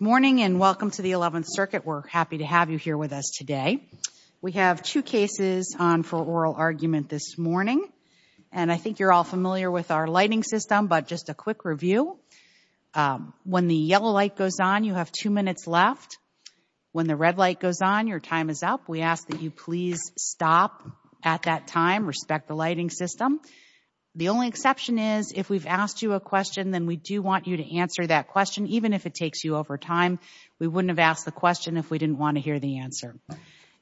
Morning, and welcome to the 11th Circuit. We're happy to have you here with us today. We have two cases on for oral argument this morning, and I think you're all familiar with our lighting system, but just a quick review. When the yellow light goes on, you have two minutes left. When the red light goes on, your time is up. We ask that you please stop at that time. Respect the lighting system. The only exception is, if we've asked you a question, then we do want you to answer that question, even if it takes you over time. We wouldn't have asked the question if we didn't want to hear the answer.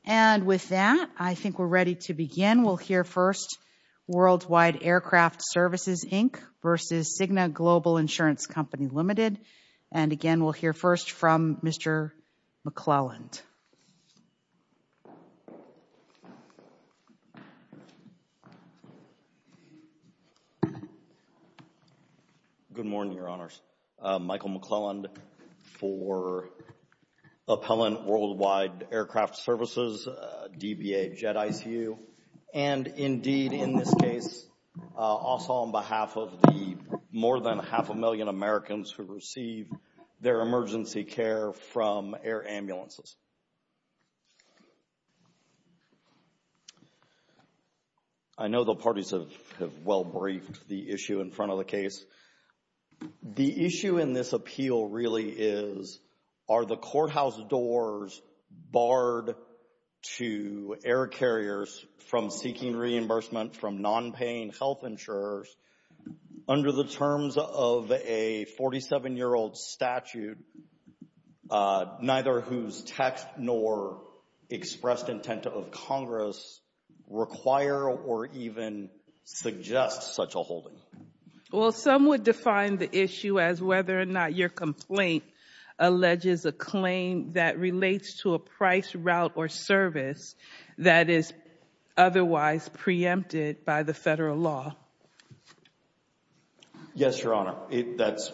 And with that, I think we're ready to begin. We'll hear first Worldwide Aircraft Services, Inc. v. Cigna Global Insurance Company Limited. And again, we'll hear first from Mr. McClelland. Good morning, Your Honors. Michael McClelland for Appellant Worldwide Aircraft Services, DBA Jet ICU. And indeed, in this case, also on behalf of the more than half a million Americans who receive their emergency care from air ambulances. I know the parties have well briefed the issue in front of the case. The issue in this appeal really is, are the courthouse doors barred to air carriers from seeking reimbursement from non-paying health insurers under the terms of a 47-year-old statute, neither whose text nor expressed intent of Congress require or even suggest such a holding? Well, some would define the issue as whether or not your complaint alleges a claim that relates to a price, route, or service that is otherwise preempted by the federal law. Yes, Your Honor. That's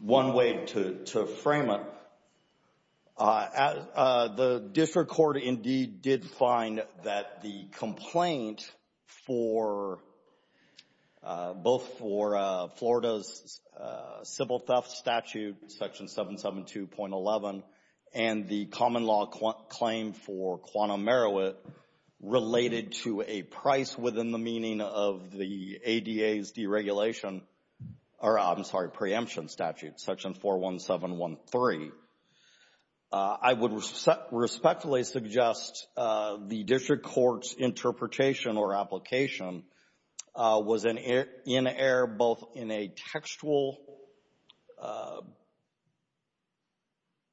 one way to frame it. The district court indeed did find that the complaint for, both for Florida's civil theft statute, section 772.11, and the common law claim for Quantum Meroweth related to a price within the meaning of the ADA's deregulation or, I'm sorry, preemption statute, section 41713. I would respectfully suggest the district court's interpretation or application was in air both in a textual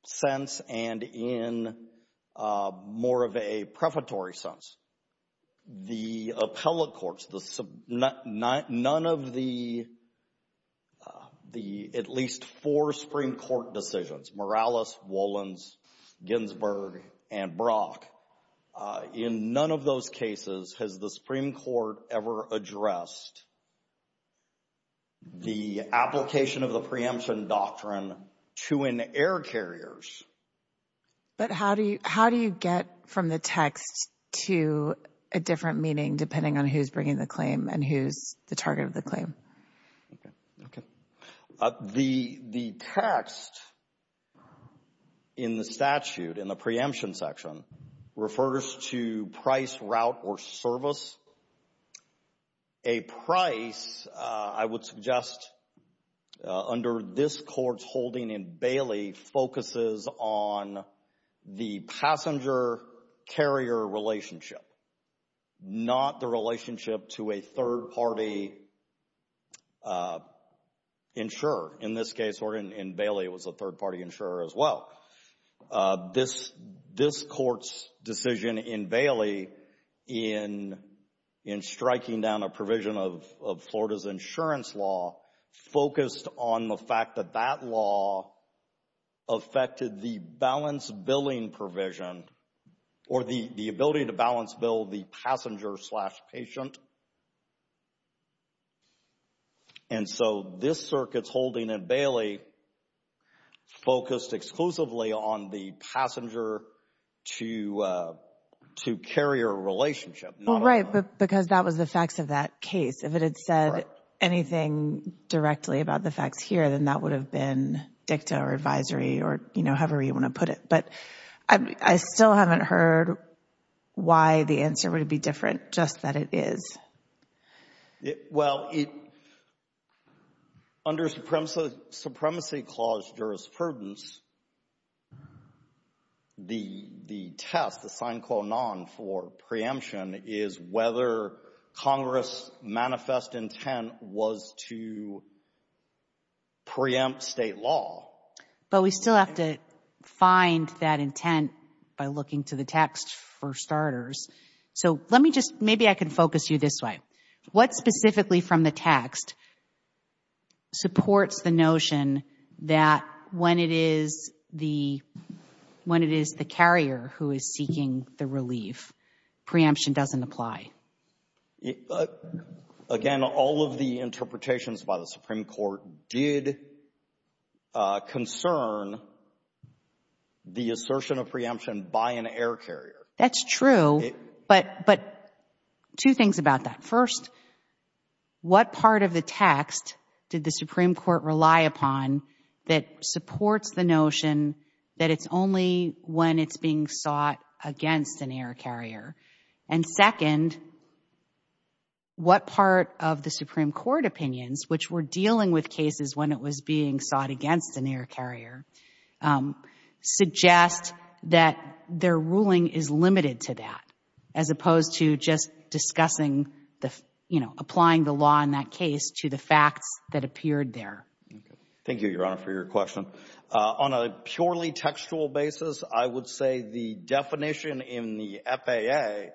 sense and in more of a prefatory sense. The appellate courts, none of the at least four Supreme Court decisions, Morales, Wolins, Ginsburg, and Brock, in none of those cases has the Supreme Court ever addressed the application of the preemption doctrine to an air carriers. But how do you get from the text to a different meaning depending on who's bringing the claim and who's the target of the claim? Okay. The text in the statute, in the preemption section, refers to price, route, or service. A price, I would suggest, under this court's holding in Bailey focuses on the passenger-carrier relationship, not the relationship to a third-party insurer. In this case, in Bailey, it was a third-party insurer as well. This court's decision in Bailey in striking down a provision of Florida's insurance law focused on the fact that that law affected the balance billing provision or the ability to balance bill the passenger-patient. And so this circuit's holding in Bailey focused exclusively on the passenger-to-carrier relationship. Well, right, because that was the facts of that case. If it had said anything directly about the facts here, then that would have been dicta or advisory or, you know, however you want to put it. But I still haven't heard why the answer would be different, just that it is. Well, under Supremacy Clause jurisprudence, the test, the sine qua non for preemption, is whether Congress' manifest intent was to preempt state law. But we still have to find that intent by looking to the text for starters. So let me just, maybe I can focus you this way. What specifically from the text supports the notion that when it is the, when it is the carrier who is seeking the relief, preemption doesn't apply? Again, all of the interpretations by the Supreme Court did concern the assertion of preemption by an air carrier. That's true, but two things about that. First, what part of the text did the Supreme Court rely upon that supports the notion that it's only when it's being sought against an air carrier? And second, what part of the Supreme Court opinions, which were dealing with cases when it was being sought against an air carrier, suggest that their ruling is limited to that, as opposed to just discussing the, you know, applying the law in that case to the facts that appeared there? Thank you, Your Honor, for your question. On a purely textual basis, I would say the definition in the FAA,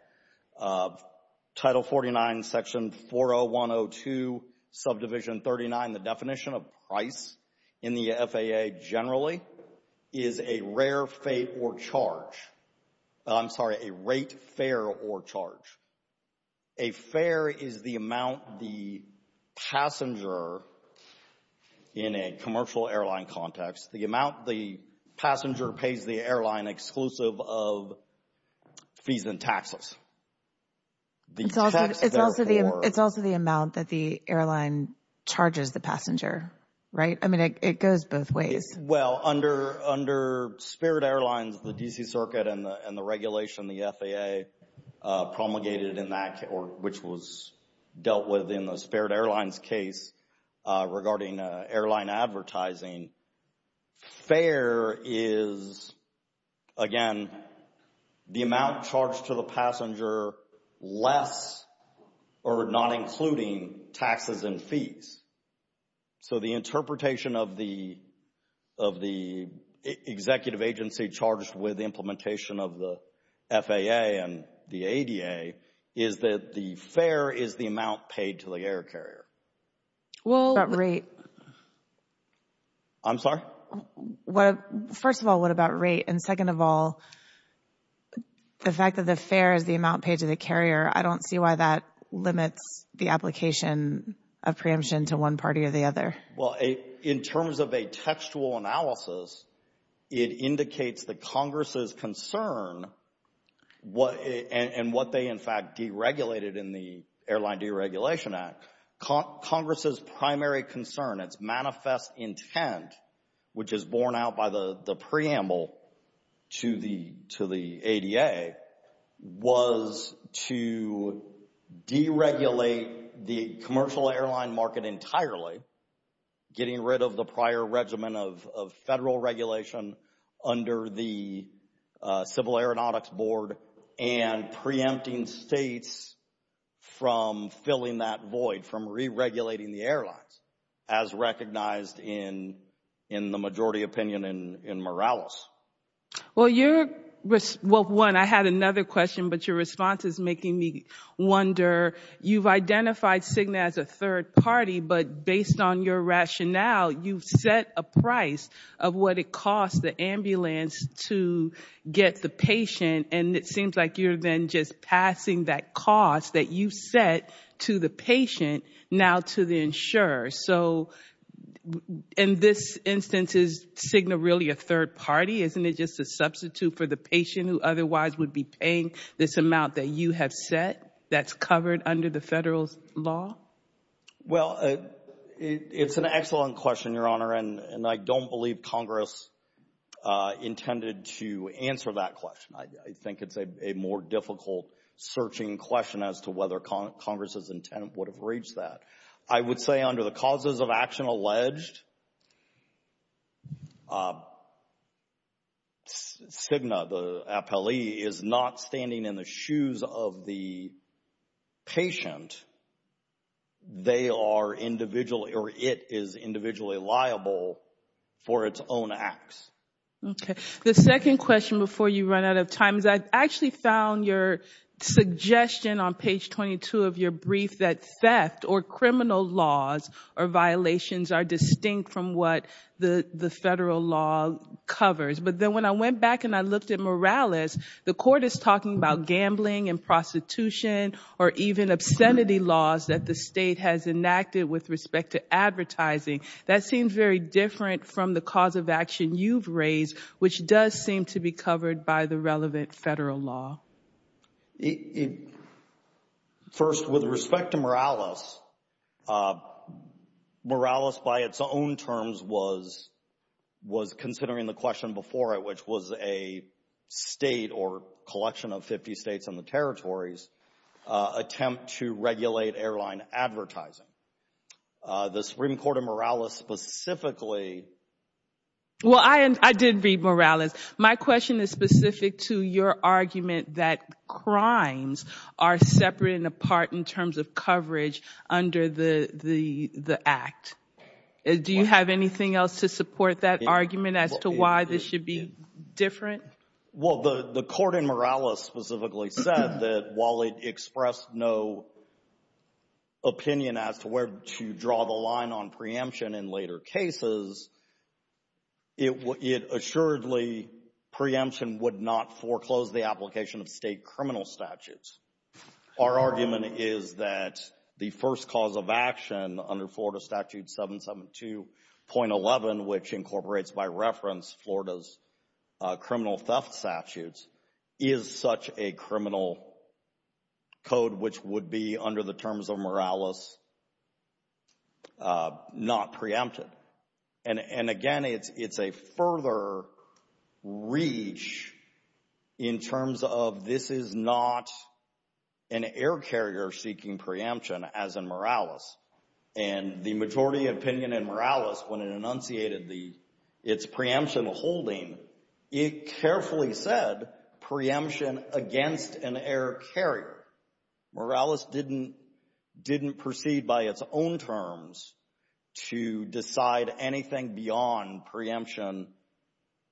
Title 49, Section 40102, Subdivision 39, the definition of price in the FAA generally is a rare fate or charge. I'm sorry, a rate, fare, or charge. A fare is the amount the passenger, in a commercial airline context, the amount the passenger pays the airline exclusive of fees and taxes. It's also the amount that the airline charges the passenger, right? I mean, it goes both ways. Well, under spared airlines, the D.C. Circuit and the regulation the FAA promulgated in that, which was dealt with in the spared airlines case regarding airline advertising, fare is again, the amount charged to the passenger less or not including taxes and fees. So, the interpretation of the executive agency charged with implementation of the FAA and the ADA is that the fare is the amount paid to the air carrier. Well— That rate— I'm sorry? Well, first of all, what about rate? And second of all, the fact that the fare is the amount paid to the carrier, I don't see why that limits the application of preemption to one party or the other. Well, in terms of a textual analysis, it indicates that Congress's concern and what they in fact deregulated in the Airline Deregulation Act, Congress's primary concern, its manifest intent, which is borne out by the preamble to the ADA, was to deregulate the commercial airline market entirely, getting rid of the prior regimen of federal regulation under the Civil Aeronautics Board and preempting states from filling that void, from re-regulating the airlines, as recognized in the majority opinion in Morales. Well, your—well, one, I had another question, but your response is making me wonder. You've identified Cigna as a third party, but based on your rationale, you've set a price of what it costs the ambulance to get the patient, and it seems like you're then just passing that cost that you set to the patient now to the insurer. So in this instance, is Cigna really a third party? Isn't it just a substitute for the patient who otherwise would be paying this amount that you have set that's covered under the federal law? Well, it's an excellent question, Your Honor, and I don't believe Congress intended to answer that question. I think it's a more difficult searching question as to whether Congress's intent would have reached that. I would say under the causes of action alleged, Cigna, the appellee, is not standing in the shoes of the patient. They are individually, or it is individually liable for its own acts. Okay. The second question before you run out of time is I actually found your suggestion on page 22 of your brief that theft or criminal laws or violations are distinct from what the federal law covers. But then when I went back and I looked at Morales, the Court is talking about gambling and prostitution or even obscenity laws that the State has enacted with respect to advertising. That seems very different from the cause of action you've raised, which does seem to be covered by the relevant federal law. First, with respect to Morales, Morales by its own terms was considering the question before it, which was a state or collection of 50 states and the territories attempt to regulate airline advertising. The Supreme Court of Morales specifically... Well, I did read Morales. My question is specific to your argument that crimes are separate and apart in terms of coverage under the act. Do you have anything else to support that argument as to why this should be different? Well, the Court in Morales specifically said that while it expressed no opinion as to where to draw the line on preemption in later cases, it assuredly, preemption would not foreclose the application of state criminal statutes. Our argument is that the first cause of action under Florida Statute 772.11, which incorporates by reference Florida's criminal theft statutes, is such a criminal code which would be under the terms of Morales not preempted. And again, it's a further reach in terms of this is not an air carrier seeking preemption, as in Morales. And the majority opinion in Morales, when it enunciated its preemption holding, it carefully said preemption against an air carrier. Morales didn't proceed by its own terms to decide anything beyond preemption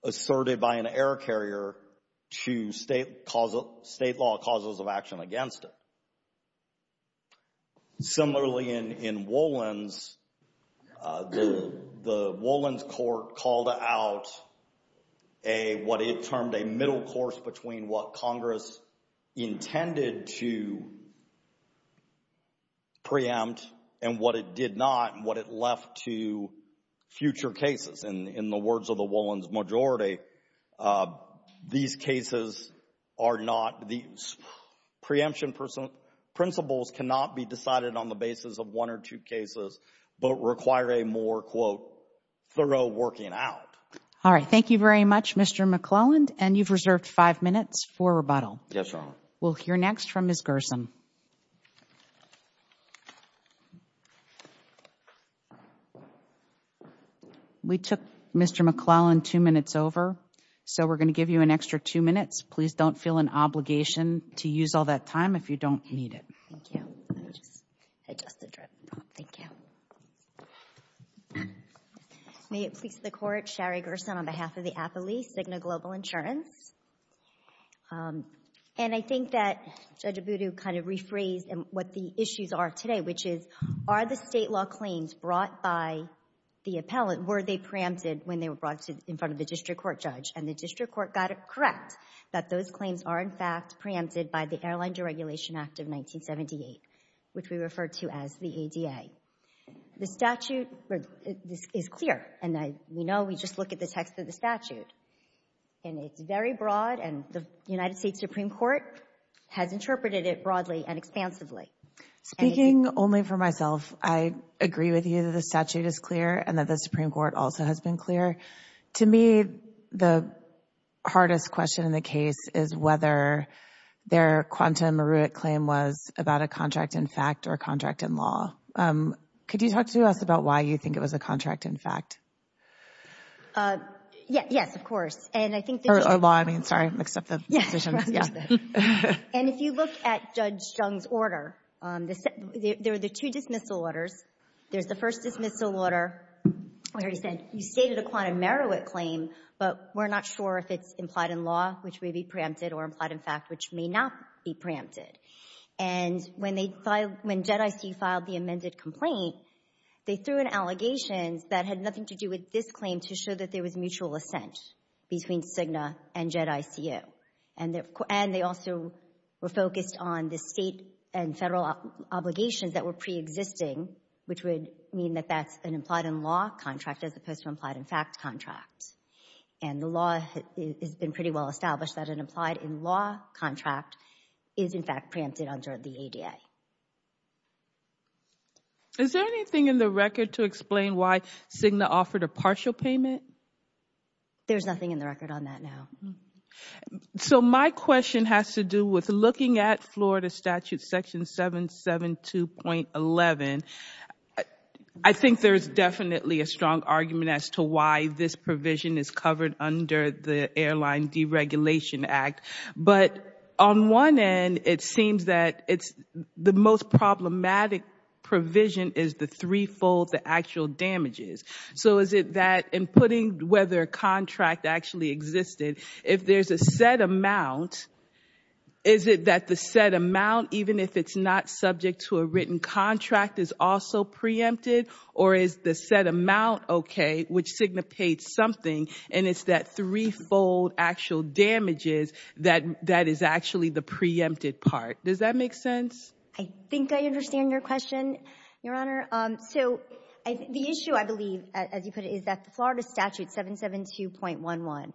asserted by an air carrier to state law causes of action against it. Similarly, in Wolins, the Wolins court called out what it termed a middle course between what Congress intended to preempt and what it did not, and what it left to future cases. And in the words of the Wolins majority, these cases are not, these preemption principles cannot be decided on the basis of one or two cases, but require a more, quote, thorough working out. All right. Thank you very much, Mr. McClelland. And you've reserved five minutes for rebuttal. We'll hear next from Ms. Gerson. We took Mr. McClelland two minutes over, so we're going to give you an extra two minutes. Please don't feel an obligation to use all that time if you don't need it. Thank you. I just had a drip. Thank you. May it please the Court, Shari Gerson on behalf of the Appellee, Cigna Global Insurance. And I think that Judge Abudu kind of rephrased what the issues are today, which is, are the state law claims brought by the appellant, were they preempted when they were brought in front of the district court judge? And the district court got it correct that those claims are, in fact, preempted by the Airline Deregulation Act of 1978, which we refer to as the ADA. The statute is clear, and we know, we just look at the text of the statute. And it's very broad, and the United States Supreme Court has interpreted it broadly and expansively. Speaking only for myself, I agree with you that the statute is clear and that the Supreme Court also has been clear. To me, the hardest question in the case is whether their quantum Marowit claim was about a contract in fact or a contract in law. Could you talk to us about why you think it was a contract in fact? Yes, yes, of course. And I think that... Or law, I mean, sorry, I mixed up the positions. Yes, I understand. And if you look at Judge Jung's order, there are the two dismissal orders. There's the first dismissal order, you stated a quantum Marowit claim, but we're not sure if it's implied in law, which may be preempted, or implied in fact, which may not be preempted. And when they filed, when JEDIC filed the amended complaint, they threw in allegations that had nothing to do with this claim to show that there was mutual assent between CIGNA and JEDIC. And they also were focused on the state and federal obligations that were preexisting, which would mean that that's an implied in law contract as opposed to implied in fact contract. And the law has been pretty well established that an implied in law contract is in fact preempted under the ADA. Is there anything in the record to explain why CIGNA offered a partial payment? There's nothing in the record on that now. So my question has to do with looking at Florida statute section 772.11. I think there's definitely a strong argument as to why this provision is covered under the Airline Deregulation Act. But on one end, it seems that it's the most problematic provision is the threefold the actual damages. So is it that in putting whether a contract actually existed, if there's a set amount, is it that the set amount, even if it's not subject to a written contract, is also preempted? Or is the set amount okay, which CIGNA paid something, and it's that threefold actual damages that is actually the preempted part? Does that make sense? I think I understand your question, Your Honor. So the issue, I believe, as you put it, is that the Florida statute 772.11,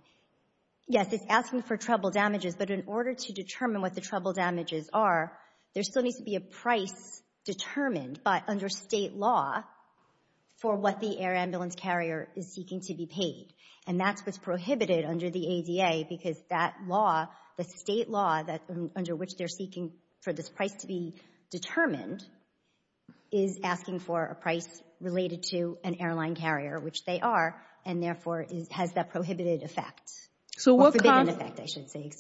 yes, it's asking for treble damages. But in order to determine what the treble damages are, there still needs to be a price determined, but under State law, for what the air ambulance carrier is seeking to be paid. And that's what's prohibited under the ADA, because that law, the State law under which they're seeking for this price to be determined, is asking for a price related to an airline carrier, which they are, and therefore has that prohibited effect, or forbidden effect, I should say.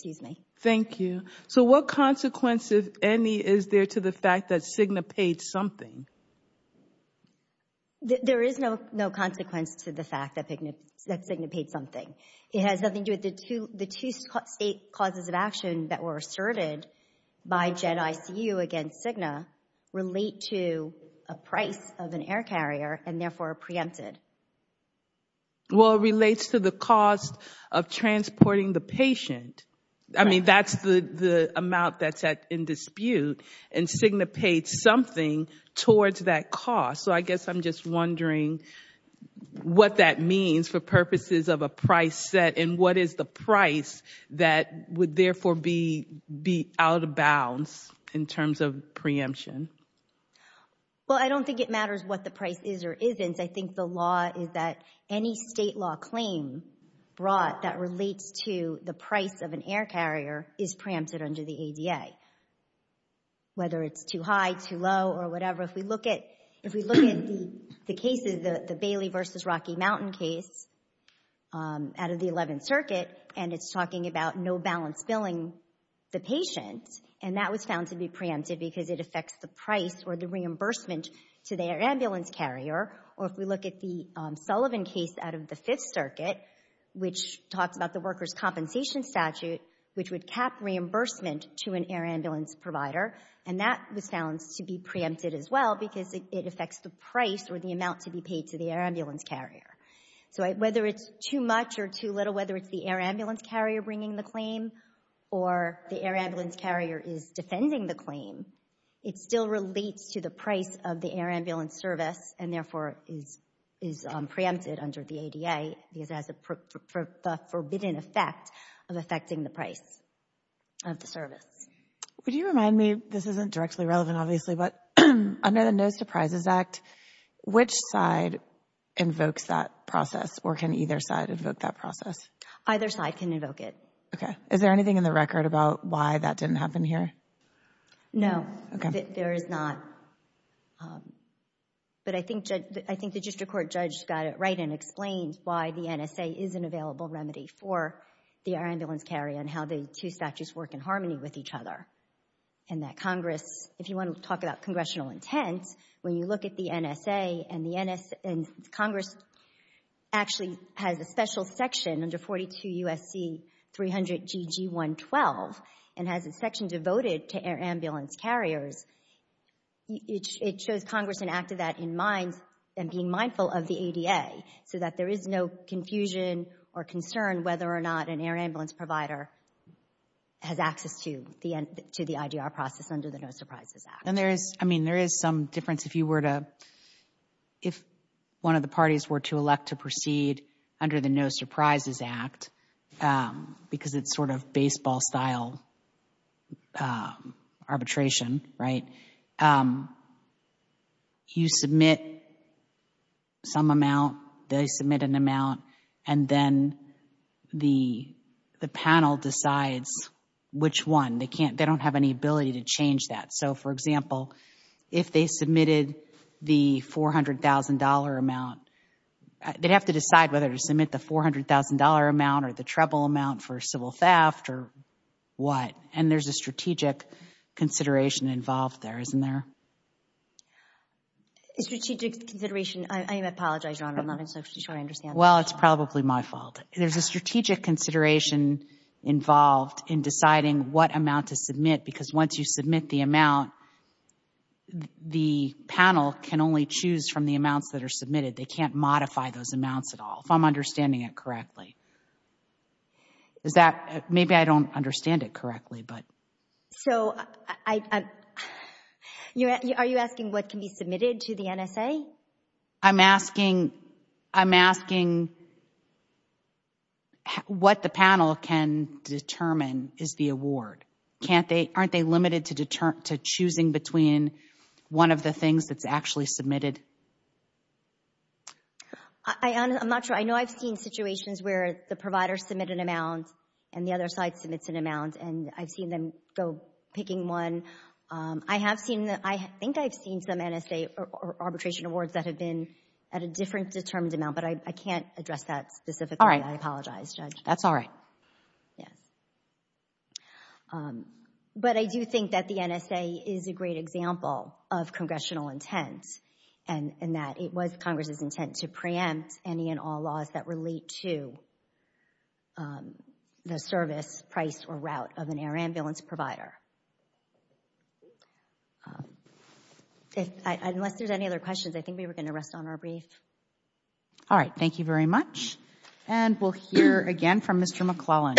Thank you. So what consequence, if any, is there to the fact that CIGNA paid something? There is no consequence to the fact that CIGNA paid something. It has nothing to do with the two State causes of action that were asserted by GEDICU against CIGNA relate to a price of an air carrier, and therefore are preempted. Well, it relates to the cost of transporting the patient. I mean, that's the amount that's at in dispute, and CIGNA paid something towards that cost. So I guess I'm just wondering what that means for purposes of a price set, and what is the price that would therefore be out of bounds in terms of preemption? Well, I don't think it matters what the price is or isn't. I think the law is that any State law claim brought that relates to the price of an air carrier is preempted under the ADA, whether it's too high, too low, or whatever. If we look at the cases, the Bailey versus Rocky Mountain case out of the 11th Circuit, and it's talking about no balance billing the patient, and that was found to be preempted because it affects the price or the reimbursement to the air ambulance carrier. Or if we look at the Sullivan case out of the 5th Circuit, which talks about the workers' compensation statute, which would cap reimbursement to an air ambulance provider, and that was found to be preempted as well because it affects the price or the amount to be paid to the air ambulance carrier. So whether it's too much or too little, whether it's the air ambulance carrier bringing the claim or the air ambulance carrier is defending the claim, it still relates to the price of the air ambulance service and therefore is preempted under the ADA because it has the forbidden effect of affecting the price of the service. Would you remind me, this isn't directly relevant obviously, but under the No Surprises Act, which side invokes that process or can either side invoke that process? Either side can invoke it. Okay. Is there anything in the record about why that didn't happen here? No. There is not. But I think the district court judge got it right and explained why the NSA is an available remedy for the air ambulance carrier and how the two statutes work in harmony with each other. And that Congress, if you want to talk about congressional intent, when you look at the NSA and Congress actually has a special section under 42 U.S.C. 300 GG 112 and has a section devoted to air ambulance carriers, it shows Congress enacted that in mind and being mindful of the ADA so that there is no confusion or concern whether or not an air ambulance provider has access to the IDR process under the No Surprises Act. And there is, I mean, there is some difference if you were to, if one of the parties were to elect to proceed under the No Surprises Act, because it's sort of baseball-style arbitration, you submit some amount, they submit an amount, and then the panel decides which one. They decide, for example, if they submitted the $400,000 amount, they'd have to decide whether to submit the $400,000 amount or the treble amount for civil theft or what. And there is a strategic consideration involved there, isn't there? A strategic consideration? I apologize, Your Honor, I'm not entirely sure I understand. Well, it's probably my fault. There is a strategic consideration involved in deciding what amount to submit, because once you submit the amount, the panel can only choose from the amounts that are submitted. They can't modify those amounts at all, if I'm understanding it correctly. Is that, maybe I don't understand it correctly, but. So I, are you asking what can be submitted to the NSA? I'm asking, I'm asking what the panel can determine is the award. Can't they, aren't they limited to choosing between one of the things that's actually submitted? I'm not sure. I know I've seen situations where the provider submits an amount, and the other side submits an amount, and I've seen them go picking one. I have seen, I think I've seen some NSA arbitration awards that have been at a different determined amount, but I can't address that specifically. I apologize, Judge. That's all right. Yes. But I do think that the NSA is a great example of congressional intent, and that it was Congress's intent to preempt any and all laws that relate to the service, price, or route of an air ambulance provider. Unless there's any other questions, I think we were going to rest on our brief. All right. Thank you very much. And we'll hear again from Mr. McClellan.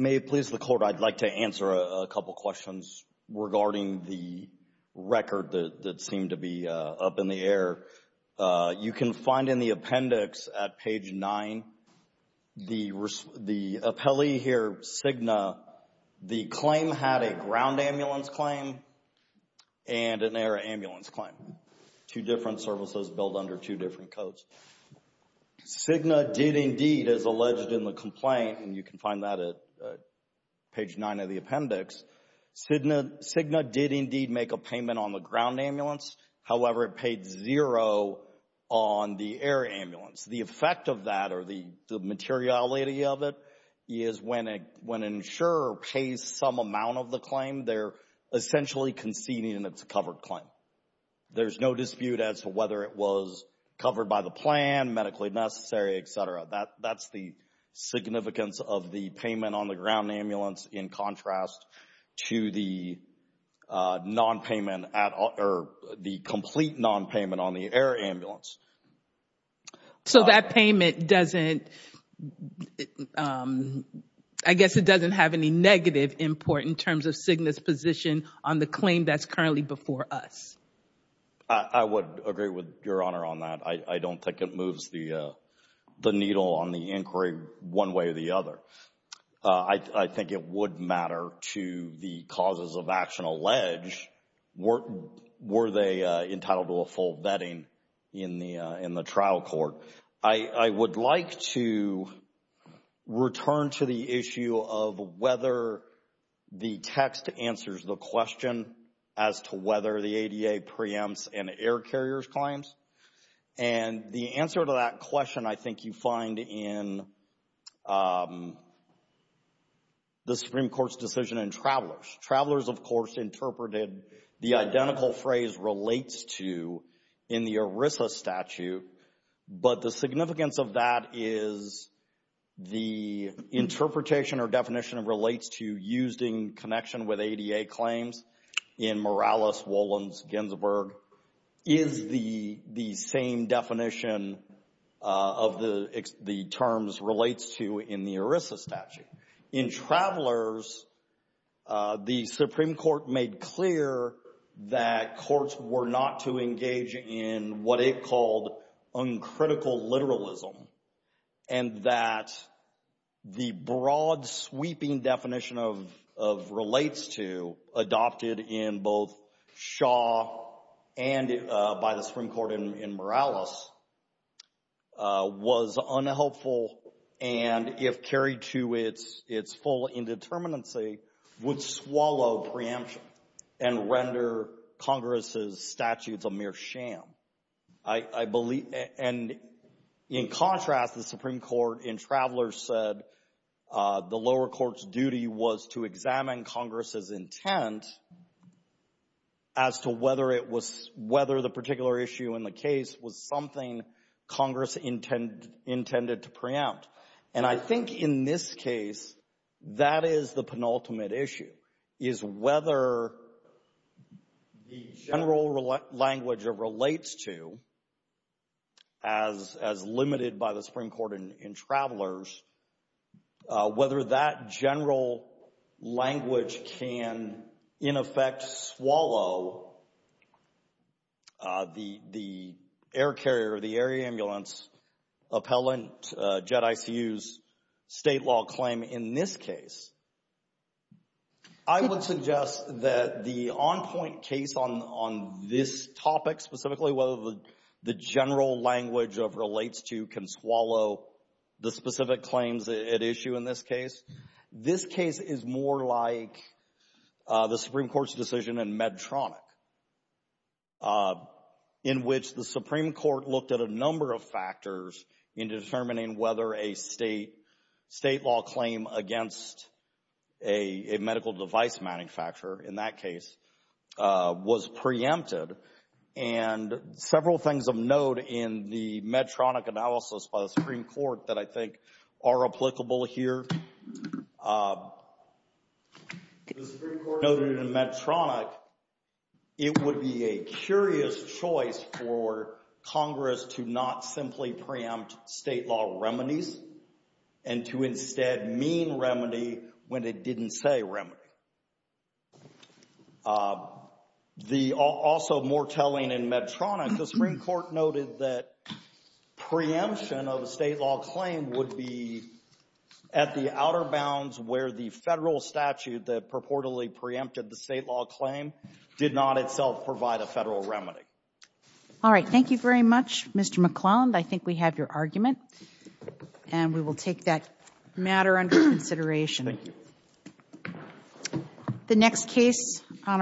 May it please the Court, I'd like to answer a couple questions regarding the record that seemed to be up in the air. You can find in the appendix at page 9, the appellee here, Cigna, the claim had a ground ambulance claim and an air ambulance claim. Two different services billed under two different codes. Cigna did indeed, as alleged in the complaint, and you can find that at page 9 of the appendix, Cigna did indeed make a payment on the ground ambulance. However, it paid zero on the air ambulance. The effect of that, or the materiality of it, is when an insurer pays some amount of the claim, they're essentially conceding it's a covered claim. There's no dispute as to whether it was covered by the plan, medically necessary, etc. That's the significance of the payment on the ground ambulance in contrast to the non-payment, or the complete non-payment on the air ambulance. So, that payment doesn't, I guess it doesn't have any negative import in terms of Cigna's position on the claim that's currently before us? I would agree with Your Honor on that. I don't think it moves the needle on the inquiry one way or the other. I think it would matter to the causes of action alleged, were they entitled to a full vetting in the trial court. I would like to return to the issue of whether the text answers the question as to whether the ADA preempts an air carrier's claims. And the answer to that question, I think you find in the Supreme Court's decision in Travelers. Travelers of course interpreted the identical phrase, relates to, in the ERISA statute. But the significance of that is the interpretation or definition of relates to used in connection with ADA claims in Morales, Wolins, Ginsberg, is the same definition of the terms relates to in the ERISA statute. In Travelers, the Supreme Court made clear that courts were not to engage in what it called uncritical literalism and that the broad sweeping definition of relates to adopted in both Shaw and by the Supreme Court in Morales was unhelpful and if carried to its full indeterminacy would swallow preemption and render Congress's statutes a mere sham. I believe, and in contrast, the Supreme Court in Travelers said the lower court's duty was to examine Congress's intent as to whether it was, whether the particular issue in the case was something Congress intended to preempt. And I think in this case, that is the penultimate issue, is whether the general language of relates to, as limited by the Supreme Court in Travelers, whether that general language can in effect swallow the Supreme Court's decision to issue the air carrier, the air ambulance, appellant, JEDICU's state law claim in this case. I would suggest that the on-point case on this topic specifically, whether the general language of relates to can swallow the specific claims at issue in this case, this case is more like the Supreme Court's decision in Medtronic. In Travelers, in which the Supreme Court looked at a number of factors in determining whether a state law claim against a medical device manufacturer, in that case, was preempted. And several things of note in the Medtronic analysis by the Supreme Court that I think are applicable here, the Supreme Court's decision for Congress to not simply preempt state law remedies and to instead mean remedy when it didn't say remedy. Also more telling in Medtronic, the Supreme Court noted that preemption of a state law claim would be at the outer bounds where the federal statute that purportedly preempted the state law claim did not itself provide a federal remedy. All right. Thank you very much, Mr. McClelland. I think we have your argument. And we will take that matter under consideration. The next case on our agenda...